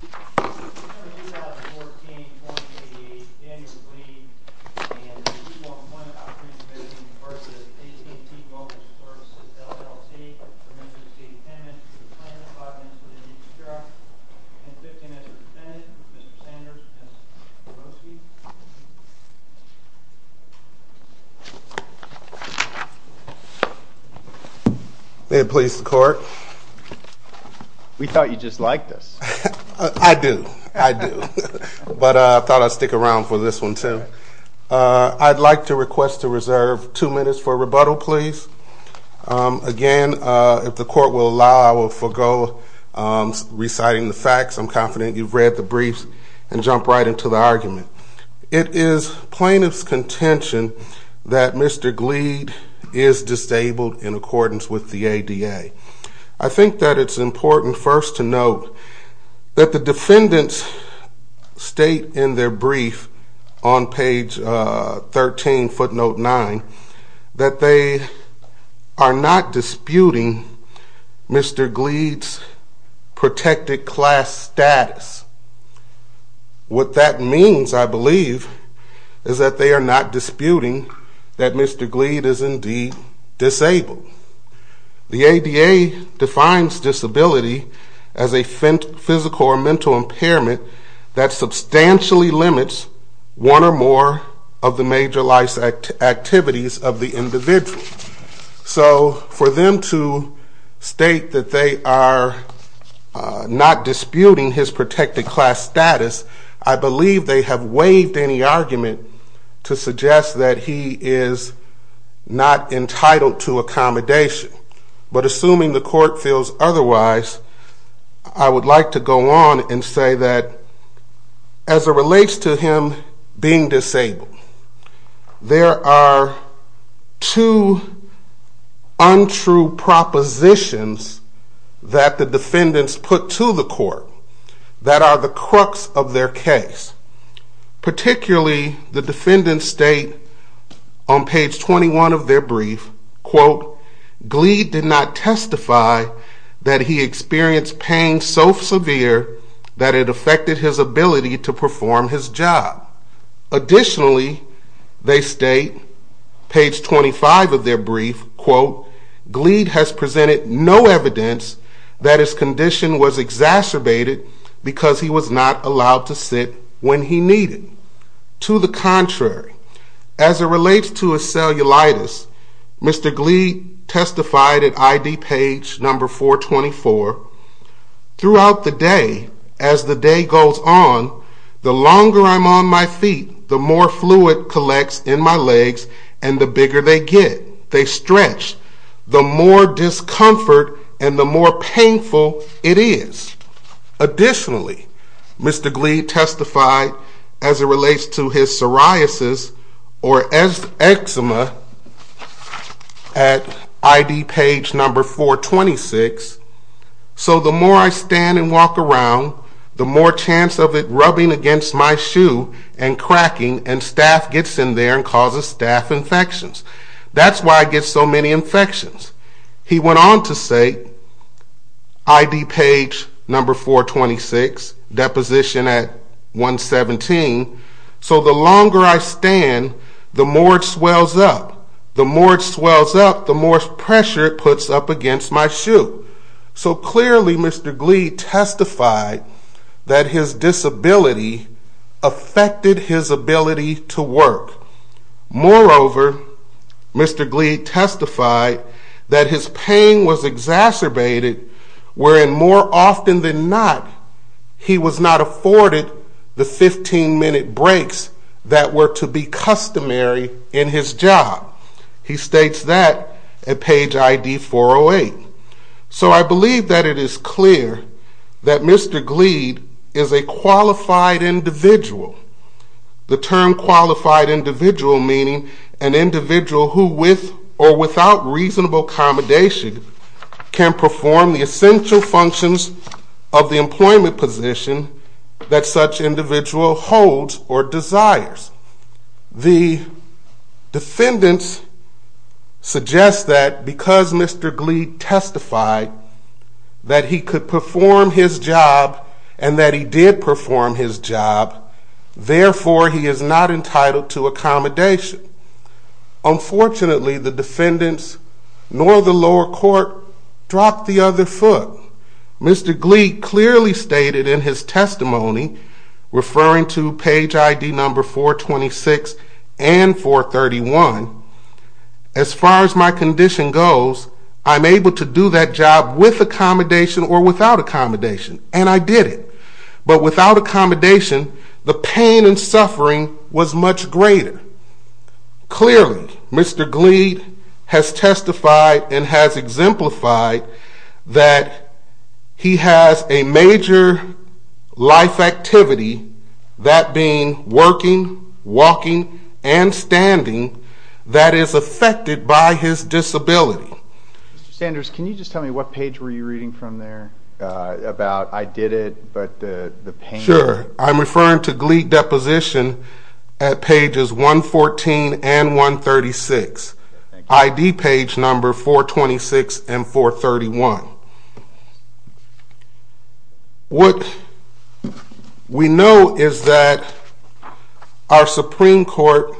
v. A T and T Mobility Services, LLC for Memphis City Tenants to the plaintiff's office of the D.C. Sheriff, and the victim as a defendant, Mr. Sanders and Mr. Kowalski. May it please the court. We thought you just liked us. I do, I do, but I thought I'd stick around for this one too. I'd like to request to reserve two minutes for rebuttal, please. Again, if the court will allow, I will forego reciting the facts. I'm confident you've read the briefs and jump right into the argument. It is plaintiff's contention that Mr. Gleed is disabled in accordance with the ADA. I think that it's important first to note that the defendants state in their brief on page 13, footnote 9, that they are not disputing Mr. Gleed's protected class status. What that means, I believe, is that they are not disputing that Mr. Gleed is indeed disabled. The ADA defines disability as a physical or mental impairment that substantially limits one or more of the major life activities of the individual. So for them to state that they are not disputing his protected class status, I believe they have waived any argument to suggest that he is not entitled to accommodation. But assuming the court feels otherwise, I would like to go on and say that as it relates to him being disabled, there are two untrue propositions that the defendants put to the court that are the crux of their case. Particularly, the defendants state on page 21 of their brief, quote, Gleed did not testify that he experienced pain so severe that it affected his ability to perform his job. Additionally, they state, page 25 of their brief, quote, Gleed has presented no evidence that his condition was exacerbated because he was not allowed to sit when he needed. To the contrary, as it relates to his cellulitis, Mr. Gleed testified at ID page number 424, throughout the day, as the day goes on, the longer I'm on my feet, the more fluid collects in my legs and the bigger they get, they stretch, the more discomfort and the more painful it is. Additionally, Mr. Gleed testified as it relates to his psoriasis or eczema at ID page number 426, so the more I stand and walk around, the more chance of it rubbing against my shoe and cracking and staph gets in there and causes staph infections. That's why I get so many infections. He went on to say, ID page number 426, deposition at 117, so the longer I stand, the more it swells up. The more it swells up, the more pressure it puts up against my shoe. So clearly, Mr. Gleed testified that his disability affected his ability to work. Moreover, Mr. Gleed testified that his pain was exacerbated, wherein more often than not, he was not afforded the 15-minute breaks that were to be customary in his job. He states that at page ID 408. So I believe that it is clear that Mr. Gleed is a qualified individual. The term qualified individual meaning an individual who, with or without reasonable accommodation, can perform the essential functions of the employment position that such individual holds or desires. The defendants suggest that because Mr. Gleed testified that he could perform his job and that he did perform his job, therefore he is not entitled to accommodation. Unfortunately, the defendants nor the lower court dropped the other foot. Mr. Gleed clearly stated in his testimony, referring to page ID number 426 and 431, as far as my condition goes, I'm able to do that job with accommodation or without accommodation, and I did it. But without accommodation, the pain and suffering was much greater. Clearly, Mr. Gleed has testified and has exemplified that he has a major life activity, that being working, walking, and standing, that is affected by his disability. Mr. Sanders, can you just tell me what page were you reading from there about I did it, but the pain? Sure, I'm referring to Gleed deposition at pages 114 and 136, ID page number 426 and 431. What we know is that our Supreme Court,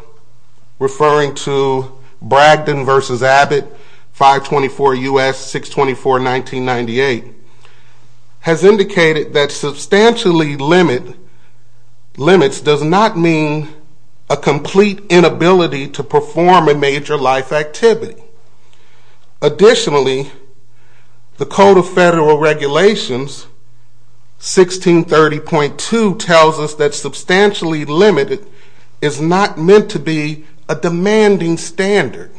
referring to Bragdon v. Abbott, 524 U.S., 624, 1998, has indicated that substantially limits does not mean a complete inability to perform a major life activity. Additionally, the Code of Federal Regulations, 1630.2, tells us that substantially limited is not meant to be a demanding standard.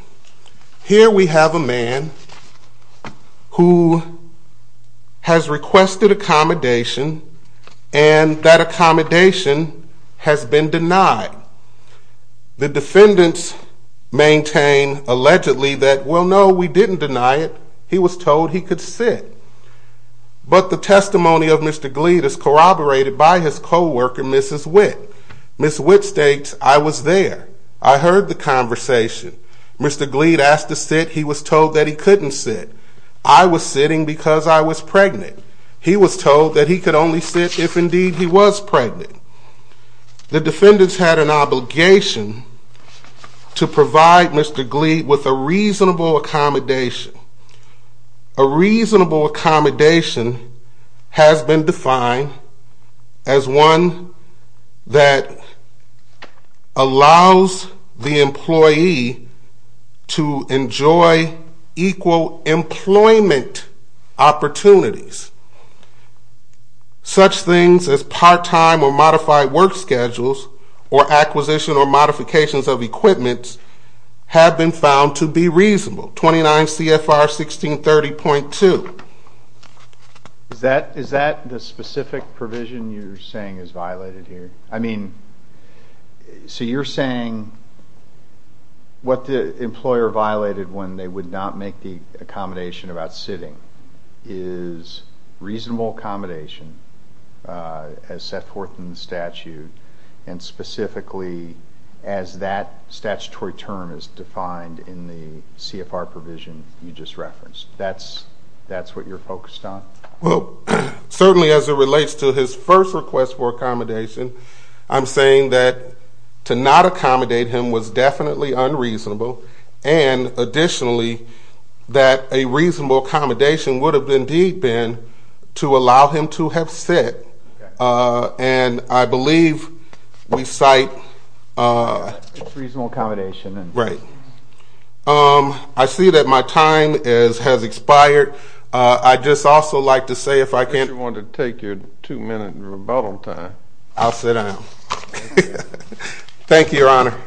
Here we have a man who has requested accommodation, and that accommodation has been denied. The defendants maintain allegedly that, well, no, we didn't deny it. He was told he could sit. But the testimony of Mr. Gleed is corroborated by his coworker, Mrs. Witt. Mrs. Witt states, I was there. I heard the conversation. Mr. Gleed asked to sit. He was told that he couldn't sit. I was sitting because I was pregnant. He was told that he could only sit if, indeed, he was pregnant. The defendants had an obligation to provide Mr. Gleed with a reasonable accommodation. A reasonable accommodation has been defined as one that allows the employee to enjoy equal employment opportunities. Such things as part-time or modified work schedules or acquisition or modifications of equipment have been found to be reasonable. 29 CFR 1630.2. Is that the specific provision you're saying is violated here? I mean, so you're saying what the employer violated when they would not make the accommodation about sitting is reasonable accommodation as set forth in the statute and specifically as that statutory term is defined in the CFR provision you just referenced. That's what you're focused on? Well, certainly as it relates to his first request for accommodation, I'm saying that to not accommodate him was definitely unreasonable and, additionally, that a reasonable accommodation would have indeed been to allow him to have sit. And I believe we cite reasonable accommodation. Right. I see that my time has expired. I'd just also like to say if I can't take your two-minute rebuttal time, I'll sit down. Thank you, Your Honor.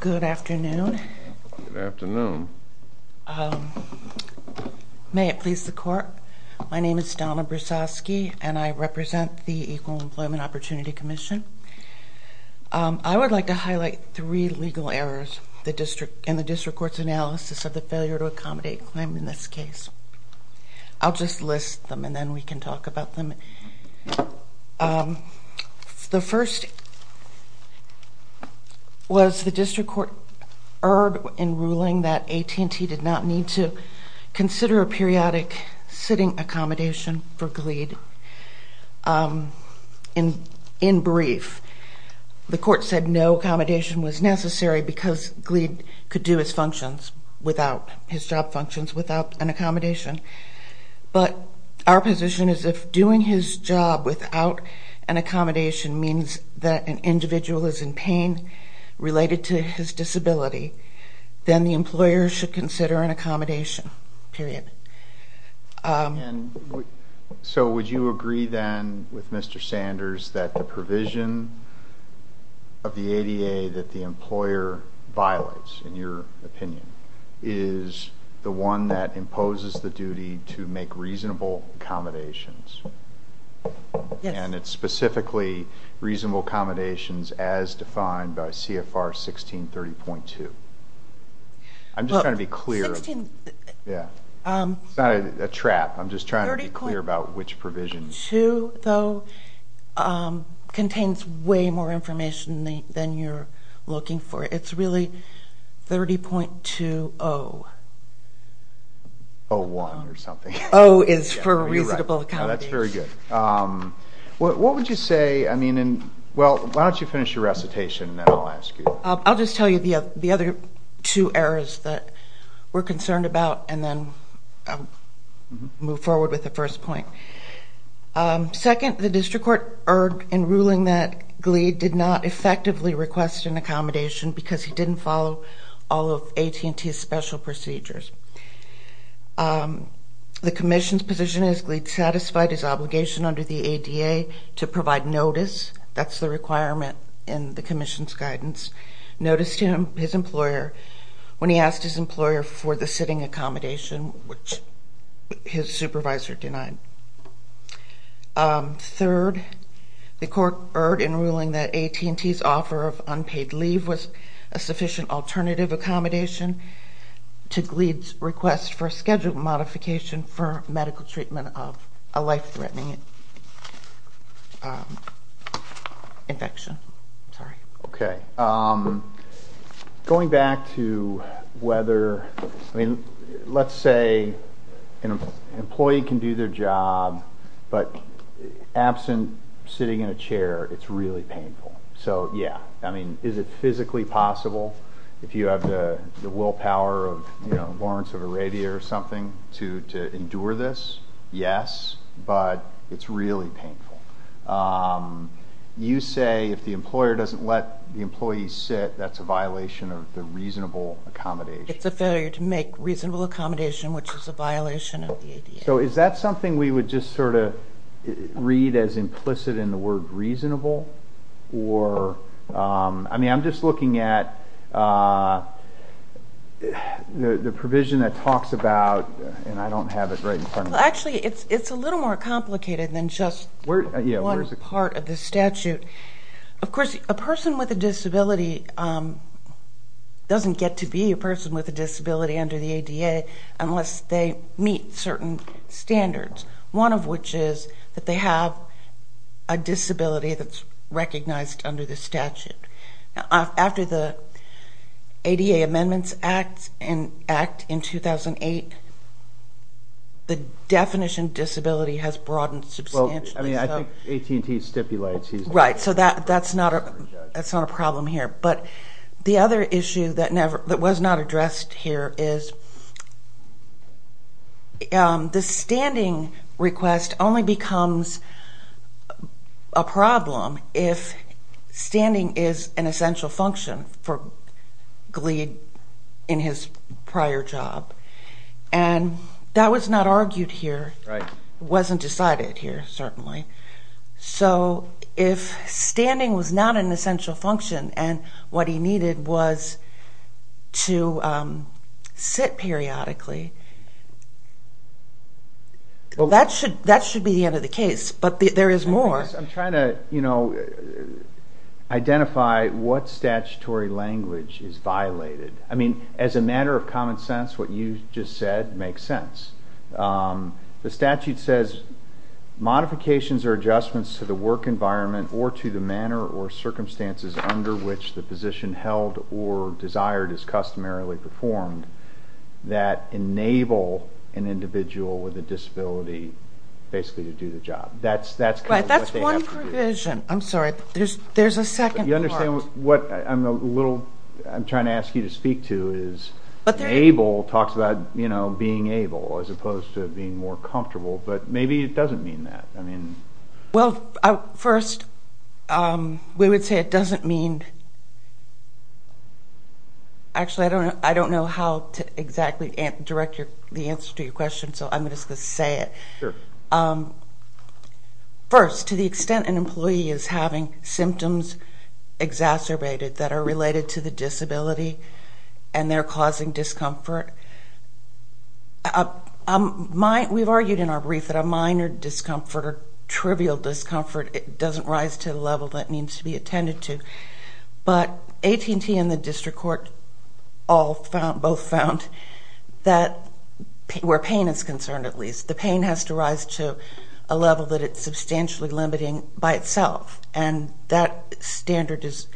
Good afternoon. Good afternoon. May it please the Court, my name is Donna Brusoski, and I represent the Equal Employment Opportunity Commission. I would like to highlight three legal errors in the district court's analysis of the failure to accommodate claim in this case. I'll just list them and then we can talk about them. The first was the district court erred in ruling that AT&T did not need to consider periodic sitting accommodation for Glead in brief. The court said no accommodation was necessary because Glead could do his job functions without an accommodation. But our position is if doing his job without an accommodation means that an individual is in pain related to his disability, then the employer should consider an accommodation, period. And so would you agree then with Mr. Sanders that the provision of the ADA that the employer violates, in your opinion, is the one that imposes the duty to make reasonable accommodations? Yes. And it's specifically reasonable accommodations as defined by CFR 1630.2? I'm just trying to be clear. It's not a trap. I'm just trying to be clear about which provision. CFR 1630.2, though, contains way more information than you're looking for. It's really 30.20. 01 or something. O is for reasonable accommodation. That's very good. What would you say? I mean, well, why don't you finish your recitation and then I'll ask you. I'll just tell you the other two errors that we're concerned about and then move forward with the first point. Second, the district court erred in ruling that Glead did not effectively request an accommodation because he didn't follow all of AT&T's special procedures. The commission's position is Glead satisfied his obligation under the ADA to provide notice. That's the requirement in the commission's guidance. Notice to his employer when he asked his employer for the sitting accommodation, which his supervisor denied. Third, the court erred in ruling that AT&T's offer of unpaid leave was a sufficient alternative accommodation to Glead's request for a schedule modification for medical treatment of a life-threatening infection. Sorry. Okay. Going back to whether, I mean, let's say an employee can do their job, but absent sitting in a chair, it's really painful. So, yeah. I mean, is it physically possible? If you have the willpower of Lawrence of Arabia or something to endure this, yes, but it's really painful. You say if the employer doesn't let the employee sit, that's a violation of the reasonable accommodation. It's a failure to make reasonable accommodation, which is a violation of the ADA. So is that something we would just sort of read as implicit in the word reasonable? Or, I mean, I'm just looking at the provision that talks about, and I don't have it right in front of me. Actually, it's a little more complicated than just one part of the statute. Of course, a person with a disability doesn't get to be a person with a disability under the ADA unless they meet certain standards, one of which is that they have a disability that's recognized under the statute. After the ADA Amendments Act in 2008, the definition of disability has broadened substantially. Well, I mean, I think AT&T stipulates he's a person with a disability. Right. So that's not a problem here. But the other issue that was not addressed here is the standing request only becomes a problem if standing is an essential function for Glead in his prior job. And that was not argued here. Right. It wasn't decided here, certainly. So if standing was not an essential function and what he needed was to sit periodically, well, that should be the end of the case, but there is more. I guess I'm trying to, you know, identify what statutory language is violated. I mean, as a matter of common sense, what you just said makes sense. The statute says modifications or adjustments to the work environment or to the manner or circumstances under which the position held or desired is customarily performed that enable an individual with a disability basically to do the job. That's kind of what they have to do. Right, that's one provision. I'm sorry, there's a second part. What I'm trying to ask you to speak to is able talks about being able as opposed to being more comfortable, but maybe it doesn't mean that. Well, first, we would say it doesn't mean – actually, I don't know how to exactly direct the answer to your question, so I'm just going to say it. Sure. First, to the extent an employee is having symptoms exacerbated that are related to the disability and they're causing discomfort, we've argued in our brief that a minor discomfort or trivial discomfort doesn't rise to the level that it needs to be attended to, but AT&T and the district court both found that where pain is concerned, at least, the pain has to rise to a level that it's substantially limiting by itself, and that standard is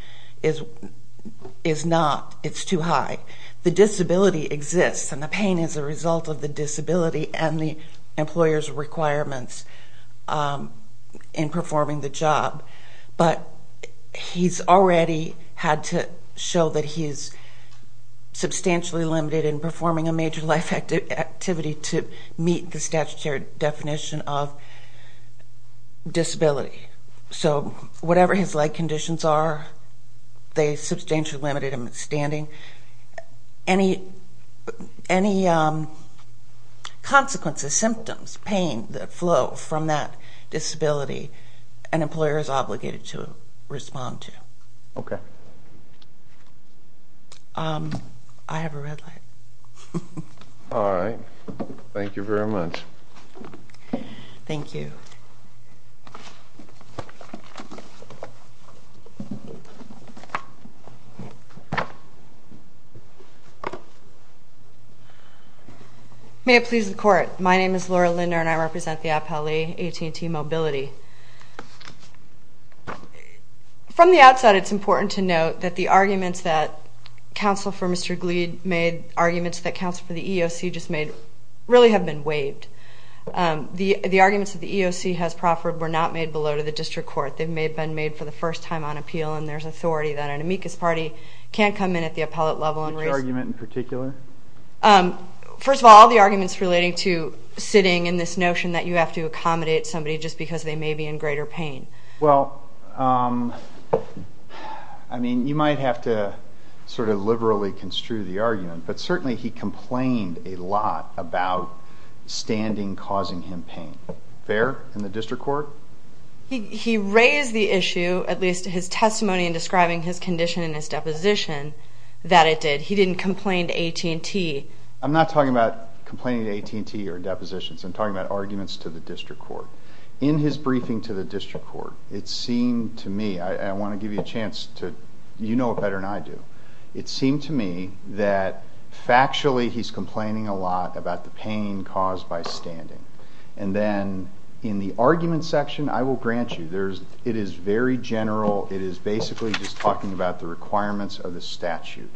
not. It's too high. The disability exists, and the pain is a result of the disability and the employer's requirements in performing the job, but he's already had to show that he's substantially limited in performing a major life activity to meet the statutory definition of disability. So whatever his leg conditions are, they substantially limit him in standing. Any consequences, symptoms, pain that flow from that disability, an employer is obligated to respond to. Okay. I have a red light. All right. Thank you very much. Thank you. May it please the court. My name is Laura Linder, and I represent the Appellee AT&T Mobility. From the outside, it's important to note that the arguments that counsel for Mr. Glead made, arguments that counsel for the EEOC just made, really have been waived. The arguments that the EEOC has proffered were not made below to the district court. They may have been made for the first time on appeal, and there's authority that an amicus party can't come in at the appellate level and raise it. Which argument in particular? First of all, the arguments relating to sitting and this notion that you have to accommodate somebody just because they may be in greater pain. Well, I mean, you might have to sort of liberally construe the argument, but certainly he complained a lot about standing causing him pain. Fair in the district court? He raised the issue, at least his testimony in describing his condition in his deposition, that it did. He didn't complain to AT&T. I'm not talking about complaining to AT&T or depositions. I'm talking about arguments to the district court. In his briefing to the district court, it seemed to me, I want to give you a chance to, you know it better than I do, it seemed to me that factually he's complaining a lot about the pain caused by standing. And then in the argument section, I will grant you, it is very general. It is basically just talking about the requirements of the statute.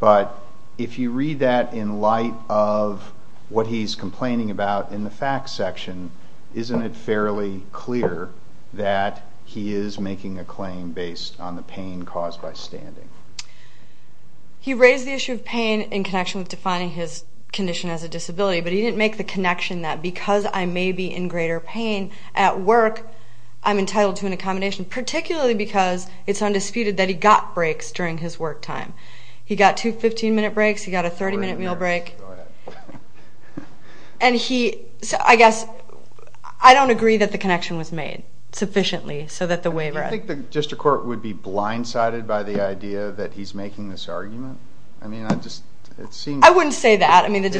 But if you read that in light of what he's complaining about in the facts section, isn't it fairly clear that he is making a claim based on the pain caused by standing? He raised the issue of pain in connection with defining his condition as a disability, but he didn't make the connection that because I may be in greater pain at work, I'm entitled to an accommodation, particularly because it's undisputed that he got breaks during his work time. He got two 15-minute breaks. He got a 30-minute meal break. And he, I guess, I don't agree that the connection was made sufficiently so that the waiver. Do you think the district court would be blindsided by the idea that he's making this argument? I mean, I just, it seems. I wouldn't say that. I think the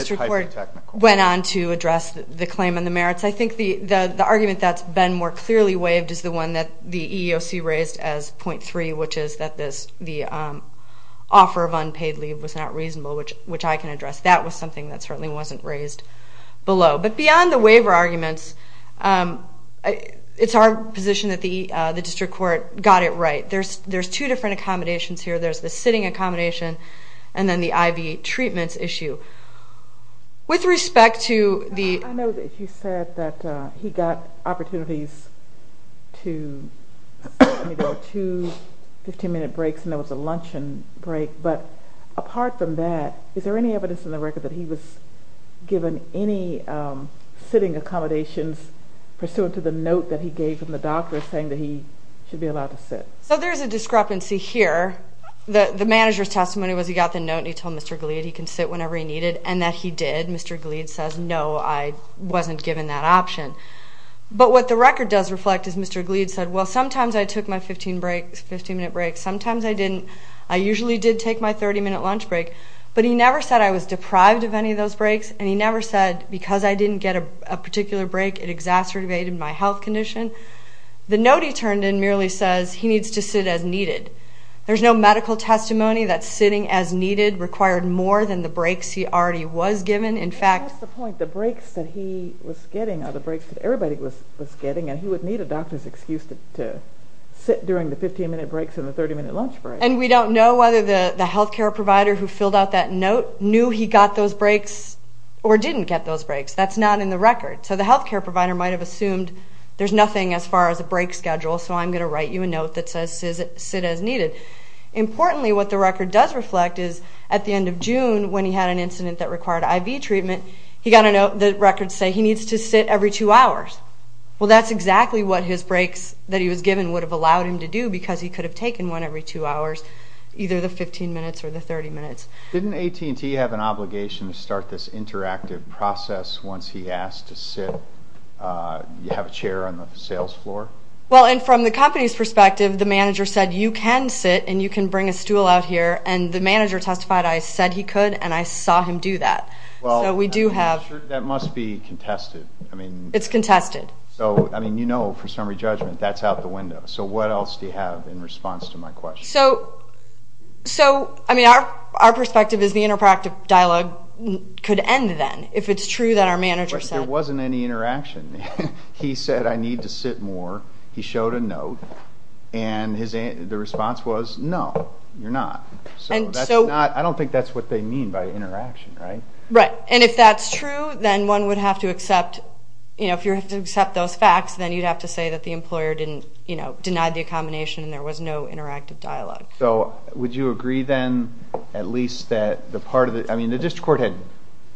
argument that's been more clearly waived is the one that the EEOC raised as .3, which is that the offer of unpaid leave was not reasonable, which I can address. That was something that certainly wasn't raised below. But beyond the waiver arguments, it's our position that the district court got it right. There's two different accommodations here. There's the sitting accommodation and then the IV treatments issue. With respect to the... I know that you said that he got opportunities to go to 15-minute breaks and there was a luncheon break. But apart from that, is there any evidence in the record that he was given any sitting accommodations pursuant to the note that he gave from the doctor saying that he should be allowed to sit? So there's a discrepancy here. The manager's testimony was he got the note and he told Mr. Glead he can sit whenever he needed, and that he did. Mr. Glead says, no, I wasn't given that option. But what the record does reflect is Mr. Glead said, well, sometimes I took my 15-minute break, sometimes I didn't. I usually did take my 30-minute lunch break. But he never said I was deprived of any of those breaks, and he never said because I didn't get a particular break it exacerbated my health condition. The note he turned in merely says he needs to sit as needed. There's no medical testimony that sitting as needed required more than the breaks he already was given. In fact, That's the point. The breaks that he was getting are the breaks that everybody was getting, and he would need a doctor's excuse to sit during the 15-minute breaks and the 30-minute lunch break. And we don't know whether the health care provider who filled out that note knew he got those breaks or didn't get those breaks. That's not in the record. So the health care provider might have assumed there's nothing as far as a break schedule, so I'm going to write you a note that says sit as needed. Importantly, what the record does reflect is at the end of June, when he had an incident that required IV treatment, he got a note that records say he needs to sit every two hours. Well, that's exactly what his breaks that he was given would have allowed him to do because he could have taken one every two hours, either the 15 minutes or the 30 minutes. Didn't AT&T have an obligation to start this interactive process once he asked to sit? You have a chair on the sales floor? Well, and from the company's perspective, the manager said you can sit and you can bring a stool out here, and the manager testified I said he could and I saw him do that. So we do have. That must be contested. It's contested. So, I mean, you know, for summary judgment, that's out the window. So what else do you have in response to my question? So, I mean, our perspective is the interactive dialogue could end then, if it's true that our manager said. There wasn't any interaction. He said I need to sit more. He showed a note, and the response was no, you're not. So that's not. I don't think that's what they mean by interaction, right? Right, and if that's true, then one would have to accept, you know, if you have to accept those facts, then you'd have to say that the employer denied the accommodation and there was no interactive dialogue. So would you agree then at least that the part of the... I mean, the district court had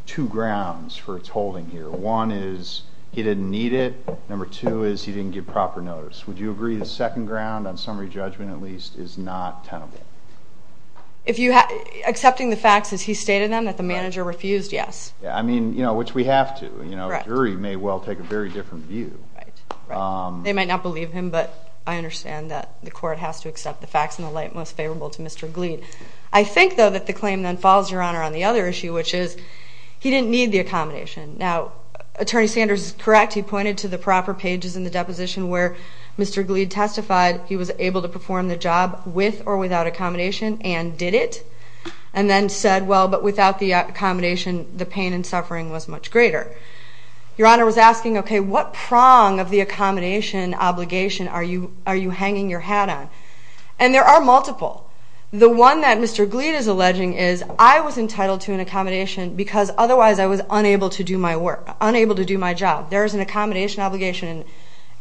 two grounds for its holding here. One is he didn't need it. Number two is he didn't give proper notice. Would you agree the second ground, on summary judgment at least, is not tenable? If you... Accepting the facts as he stated them, that the manager refused, yes. I mean, you know, which we have to. A jury may well take a very different view. They might not believe him, but I understand that the court has to accept the facts in the light most favorable to Mr. Glead. I think, though, that the claim then falls, Your Honor, on the other issue, which is he didn't need the accommodation. Now, Attorney Sanders is correct. He pointed to the proper pages in the deposition where Mr. Glead testified he was able to perform the job with or without accommodation and did it, and then said, well, but without the accommodation, the pain and suffering was much greater. Your Honor was asking, okay, what prong of the accommodation obligation are you hanging your hat on? And there are multiple. The one that Mr. Glead is alleging is, I was entitled to an accommodation because otherwise I was unable to do my work, unable to do my job. There is an accommodation obligation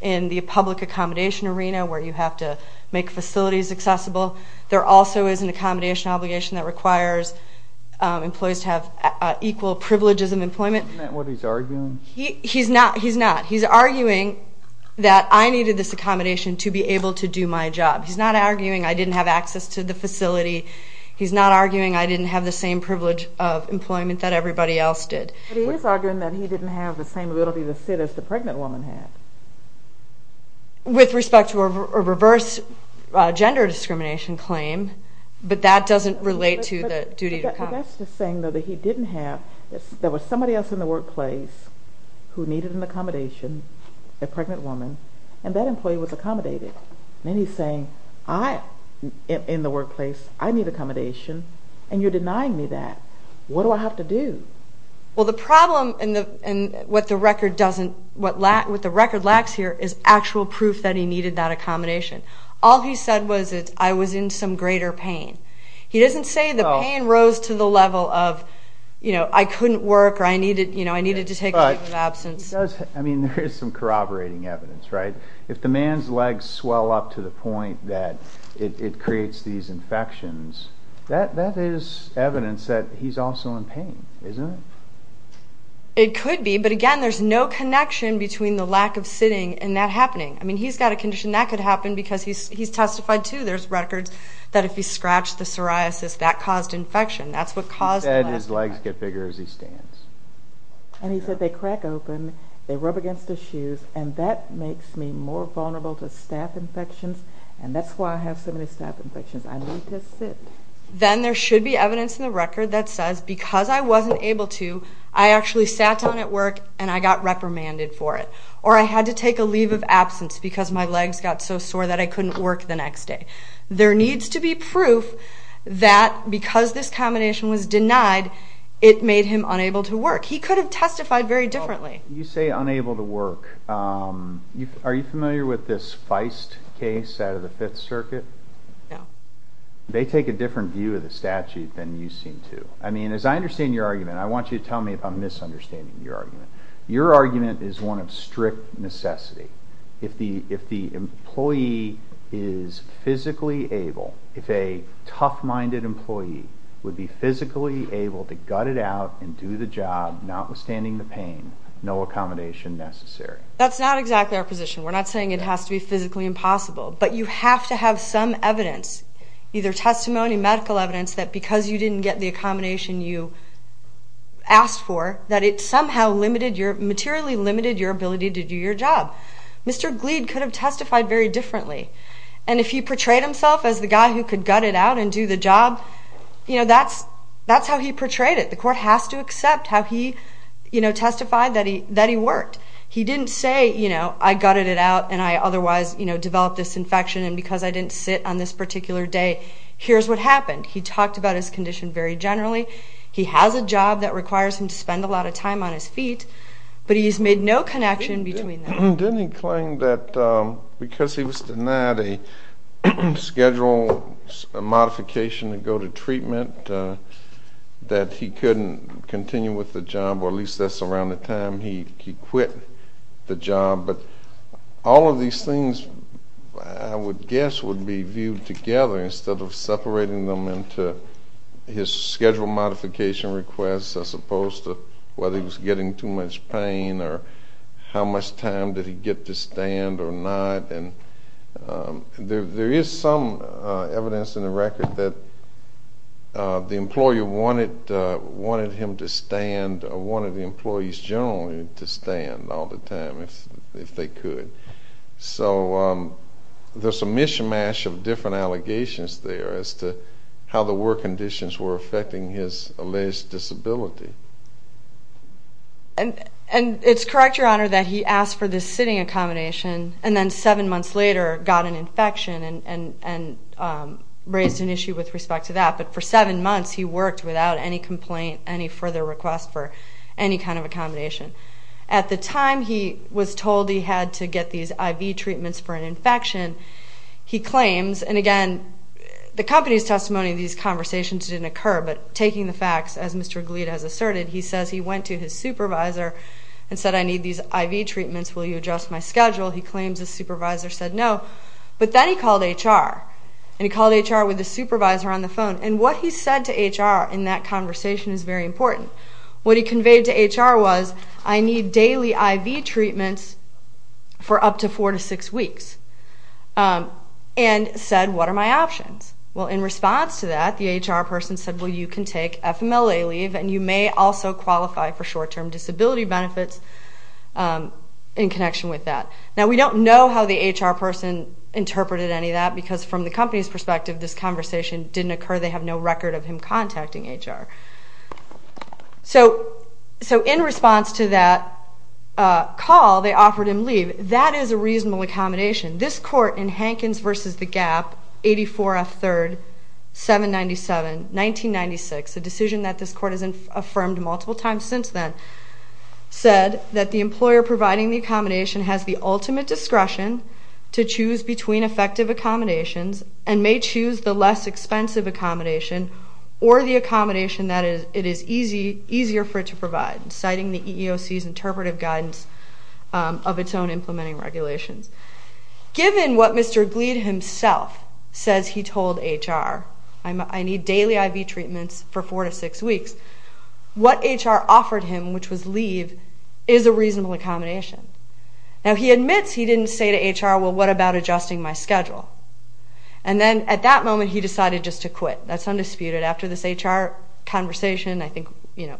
in the public accommodation arena where you have to make facilities accessible. There also is an accommodation obligation that requires employees to have equal privileges of employment. Isn't that what he's arguing? He's not. He's not. He's arguing that I needed this accommodation to be able to do my job. He's not arguing I didn't have access to the facility. He's not arguing I didn't have the same privilege of employment that everybody else did. But he is arguing that he didn't have the same ability to sit as the pregnant woman had. With respect to a reverse gender discrimination claim, but that doesn't relate to the duty to come. But that's just saying, though, that he didn't have, there was somebody else in the workplace who needed an accommodation, a pregnant woman, and that employee was accommodated. Then he's saying, in the workplace, I need accommodation, and you're denying me that. What do I have to do? Well, the problem with what the record lacks here is actual proof that he needed that accommodation. All he said was that I was in some greater pain. He doesn't say the pain rose to the level of I couldn't work or I needed to take a leave of absence. I mean, there is some corroborating evidence. If the man's legs swell up to the point that it creates these infections, that is evidence that he's also in pain, isn't it? It could be, but again, there's no connection between the lack of sitting and that happening. I mean, he's got a condition that could happen because he's testified too. There's records that if he scratched the psoriasis, that caused infection. He said his legs get bigger as he stands. And he said they crack open, they rub against his shoes, and that makes me more vulnerable to staph infections, and that's why I have so many staph infections. I need to sit. Then there should be evidence in the record that says because I wasn't able to, I actually sat down at work and I got reprimanded for it. Or I had to take a leave of absence because my legs got so sore that I couldn't work the next day. There needs to be proof that because this combination was denied, it made him unable to work. He could have testified very differently. You say unable to work. Are you familiar with this Feist case out of the Fifth Circuit? No. They take a different view of the statute than you seem to. I mean, as I understand your argument, I want you to tell me if I'm misunderstanding your argument. Your argument is one of strict necessity. If the employee is physically able, if a tough-minded employee would be physically able to gut it out and do the job, notwithstanding the pain, no accommodation necessary. That's not exactly our position. We're not saying it has to be physically impossible. But you have to have some evidence, either testimony, medical evidence, that because you didn't get the accommodation you asked for, that it somehow materially limited your ability to do your job. Mr. Glead could have testified very differently. And if he portrayed himself as the guy who could gut it out and do the job, that's how he portrayed it. The court has to accept how he testified that he worked. He didn't say, you know, I gutted it out and I otherwise developed this infection and because I didn't sit on this particular day, here's what happened. He talked about his condition very generally. He has a job that requires him to spend a lot of time on his feet, but he's made no connection between them. Didn't he claim that because he was denied a schedule modification and go to treatment that he couldn't continue with the job, or at least that's around the time he quit the job. But all of these things, I would guess, would be viewed together instead of separating them into his schedule modification requests as opposed to whether he was getting too much pain or how much time did he get to stand or not. There is some evidence in the record that the employer wanted him to stand or wanted the employees generally to stand all the time if they could. So there's a mishmash of different allegations there as to how the work conditions were affecting his alleged disability. And it's correct, Your Honor, that he asked for this sitting accommodation and then seven months later got an infection and raised an issue with respect to that. But for seven months he worked without any complaint, any further request for any kind of accommodation. At the time he was told he had to get these IV treatments for an infection, he claims, and again, the company's testimony of these conversations didn't occur, but taking the facts, as Mr. Glead has asserted, he says he went to his supervisor and said, I need these IV treatments, will you adjust my schedule? He claims his supervisor said no. But then he called HR, and he called HR with his supervisor on the phone, and what he said to HR in that conversation is very important. What he conveyed to HR was, I need daily IV treatments for up to four to six weeks, and said, what are my options? Well, in response to that, the HR person said, well, you can take FMLA leave and you may also qualify for short-term disability benefits in connection with that. Now, we don't know how the HR person interpreted any of that because from the company's perspective this conversation didn't occur. They have no record of him contacting HR. So in response to that call, they offered him leave. That is a reasonable accommodation. This court in Hankins v. The Gap, 84F 3rd, 797, 1996, a decision that this court has affirmed multiple times since then, said that the employer providing the accommodation has the ultimate discretion to choose between effective accommodations and may choose the less expensive accommodation or the accommodation that it is easier for it to provide, citing the EEOC's interpretive guidance of its own implementing regulations. Given what Mr. Glead himself says he told HR, I need daily IV treatments for 4 to 6 weeks, what HR offered him, which was leave, is a reasonable accommodation. Now, he admits he didn't say to HR, well, what about adjusting my schedule? And then at that moment he decided just to quit. That's undisputed. After this HR conversation, I think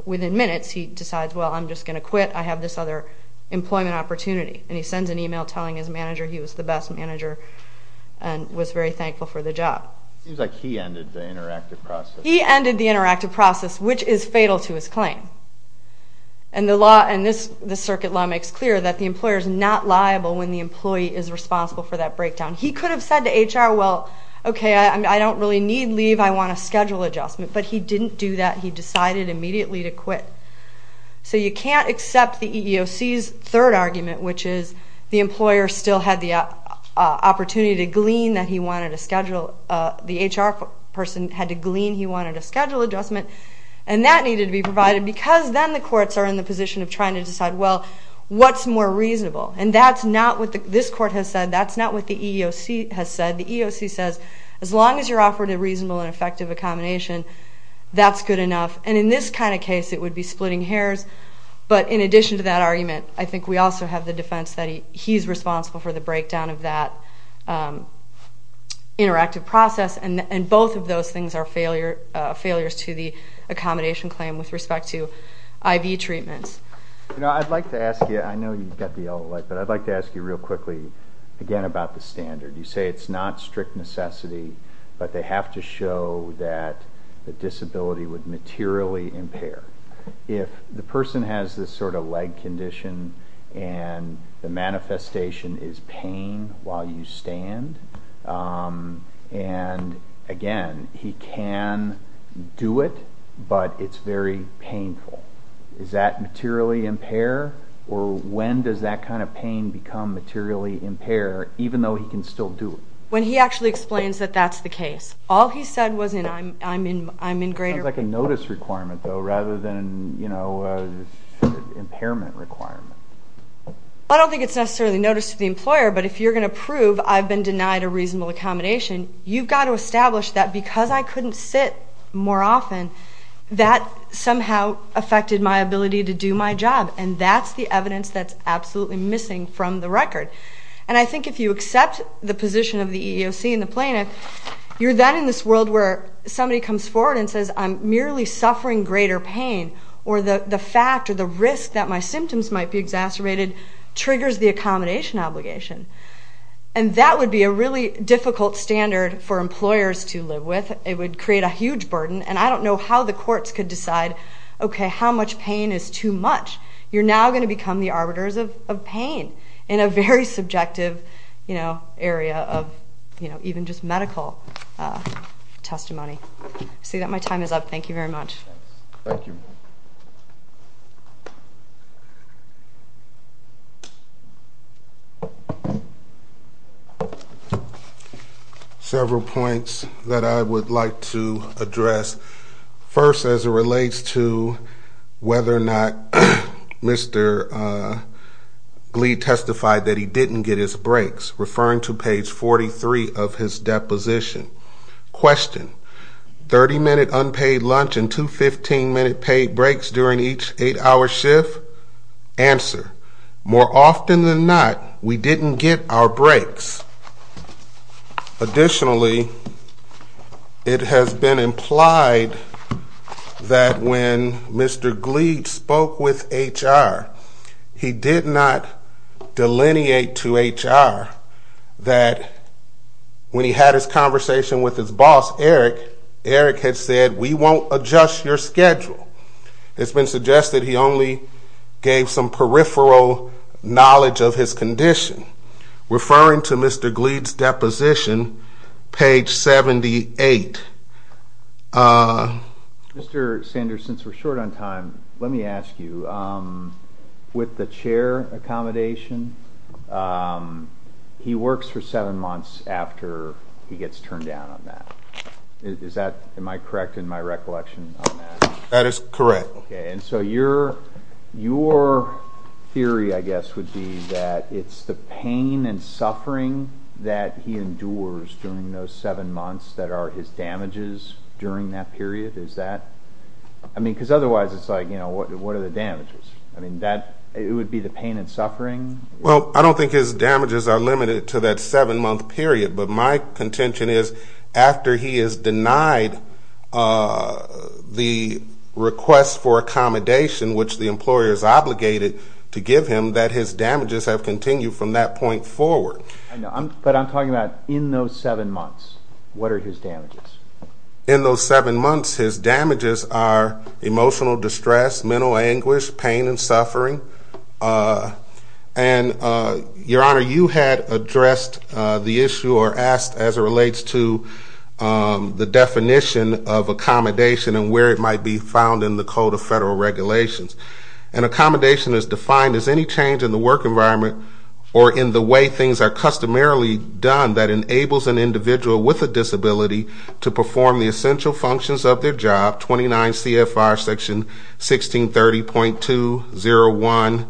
within minutes, he decides, well, I'm just going to quit. I have this other employment opportunity. And he sends an email telling his manager he was the best manager and was very thankful for the job. It seems like he ended the interactive process. He ended the interactive process, which is fatal to his claim. And the circuit law makes clear that the employer is not liable when the employee is responsible for that breakdown. He could have said to HR, well, okay, I don't really need leave. I want a schedule adjustment. But he didn't do that. He decided immediately to quit. So you can't accept the EEOC's third argument, which is the employer still had the opportunity to glean that he wanted a schedule. The HR person had to glean he wanted a schedule adjustment. And that needed to be provided because then the courts are in the position of trying to decide, well, what's more reasonable? And that's not what this court has said. That's not what the EEOC has said. The EEOC says as long as you're offered a reasonable and effective accommodation, that's good enough. And in this kind of case, it would be splitting hairs. But in addition to that argument, I think we also have the defense that he's responsible for the breakdown of that interactive process. And both of those things are failures to the accommodation claim with respect to IV treatments. I'd like to ask you, I know you've got the yellow light, but I'd like to ask you real quickly, again, about the standard. You say it's not strict necessity, but they have to show that the disability would materially impair. If the person has this sort of leg condition and the manifestation is pain while you stand, and, again, he can do it, but it's very painful, is that materially impair? Or when does that kind of pain become materially impair, even though he can still do it? When he actually explains that that's the case. All he said was, I'm in greater pain. It sounds like a notice requirement, though, rather than an impairment requirement. I don't think it's necessarily notice to the employer, but if you're going to prove I've been denied a reasonable accommodation, you've got to establish that because I couldn't sit more often, that somehow affected my ability to do my job. And that's the evidence that's absolutely missing from the record. And I think if you accept the position of the EEOC and the plaintiff, you're then in this world where somebody comes forward and says, I'm merely suffering greater pain, or the fact or the risk that my symptoms might be exacerbated triggers the accommodation obligation. And that would be a really difficult standard for employers to live with. It would create a huge burden, and I don't know how the courts could decide, okay, how much pain is too much. You're now going to become the arbiters of pain in a very subjective area of even just medical testimony. I see that my time is up. Thank you very much. Thank you. Several points that I would like to address. First, as it relates to whether or not Mr. Glee testified that he didn't get his breaks, referring to page 43 of his deposition. Question, 30-minute unpaid lunch and two 15-minute paid breaks during each 8-hour shift? Answer, more often than not, we didn't get our breaks. Additionally, it has been implied that when Mr. Glee spoke with HR, he did not delineate to HR that when he had his conversation with his boss, Eric, Eric had said, we won't adjust your schedule. It's been suggested he only gave some peripheral knowledge of his condition. Referring to Mr. Glee's deposition, page 78. Mr. Sanders, since we're short on time, let me ask you, with the chair accommodation, he works for seven months after he gets turned down on that. Am I correct in my recollection on that? That is correct. Okay, and so your theory, I guess, would be that it's the pain and suffering that he endures during those seven months that are his damages during that period? Is that, I mean, because otherwise it's like, you know, what are the damages? I mean, it would be the pain and suffering? Well, I don't think his damages are limited to that seven-month period, but my contention is after he is denied the request for accommodation, which the employer is obligated to give him, that his damages have continued from that point forward. But I'm talking about in those seven months, what are his damages? In those seven months, his damages are emotional distress, mental anguish, pain and suffering. And, Your Honor, you had addressed the issue or asked as it relates to the definition of accommodation and where it might be found in the Code of Federal Regulations. An accommodation is defined as any change in the work environment or in the way things are customarily done that enables an individual with a disability to perform the essential functions of their job, 29 CFR Section 1630.201,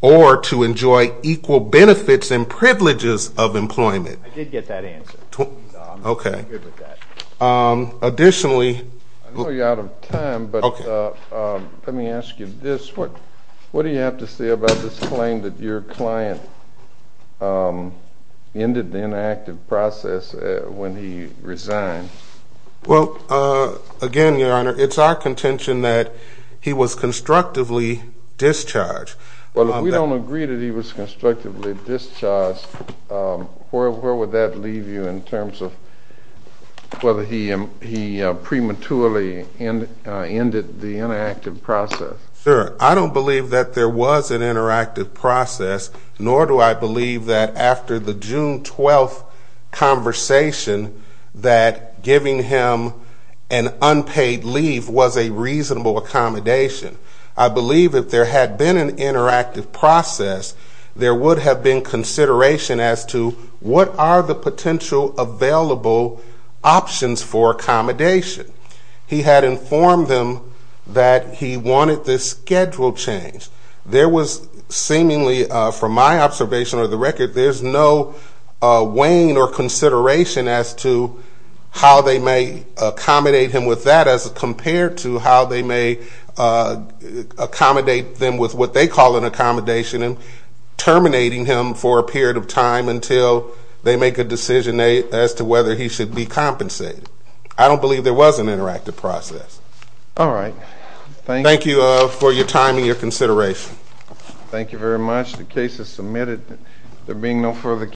or to enjoy equal benefits and privileges of employment. I did get that answer. Okay. I'm not good with that. Additionally. I know you're out of time, but let me ask you this. What do you have to say about this claim that your client ended the inactive process when he resigned? Well, again, Your Honor, it's our contention that he was constructively discharged. Well, if we don't agree that he was constructively discharged, where would that leave you in terms of whether he prematurely ended the inactive process? Sure. I don't believe that there was an interactive process, nor do I believe that after the June 12th conversation that giving him an unpaid leave was a reasonable accommodation. I believe if there had been an interactive process, there would have been consideration as to what are the potential available options for accommodation. He had informed them that he wanted this schedule changed. There was seemingly, from my observation or the record, there's no weighing or consideration as to how they may accommodate him with that as compared to how they may accommodate them with what they call an accommodation and terminating him for a period of time until they make a decision as to whether he should be compensated. I don't believe there was an interactive process. All right. Thank you for your time and your consideration. Thank you very much. The case is submitted. There being no further questions.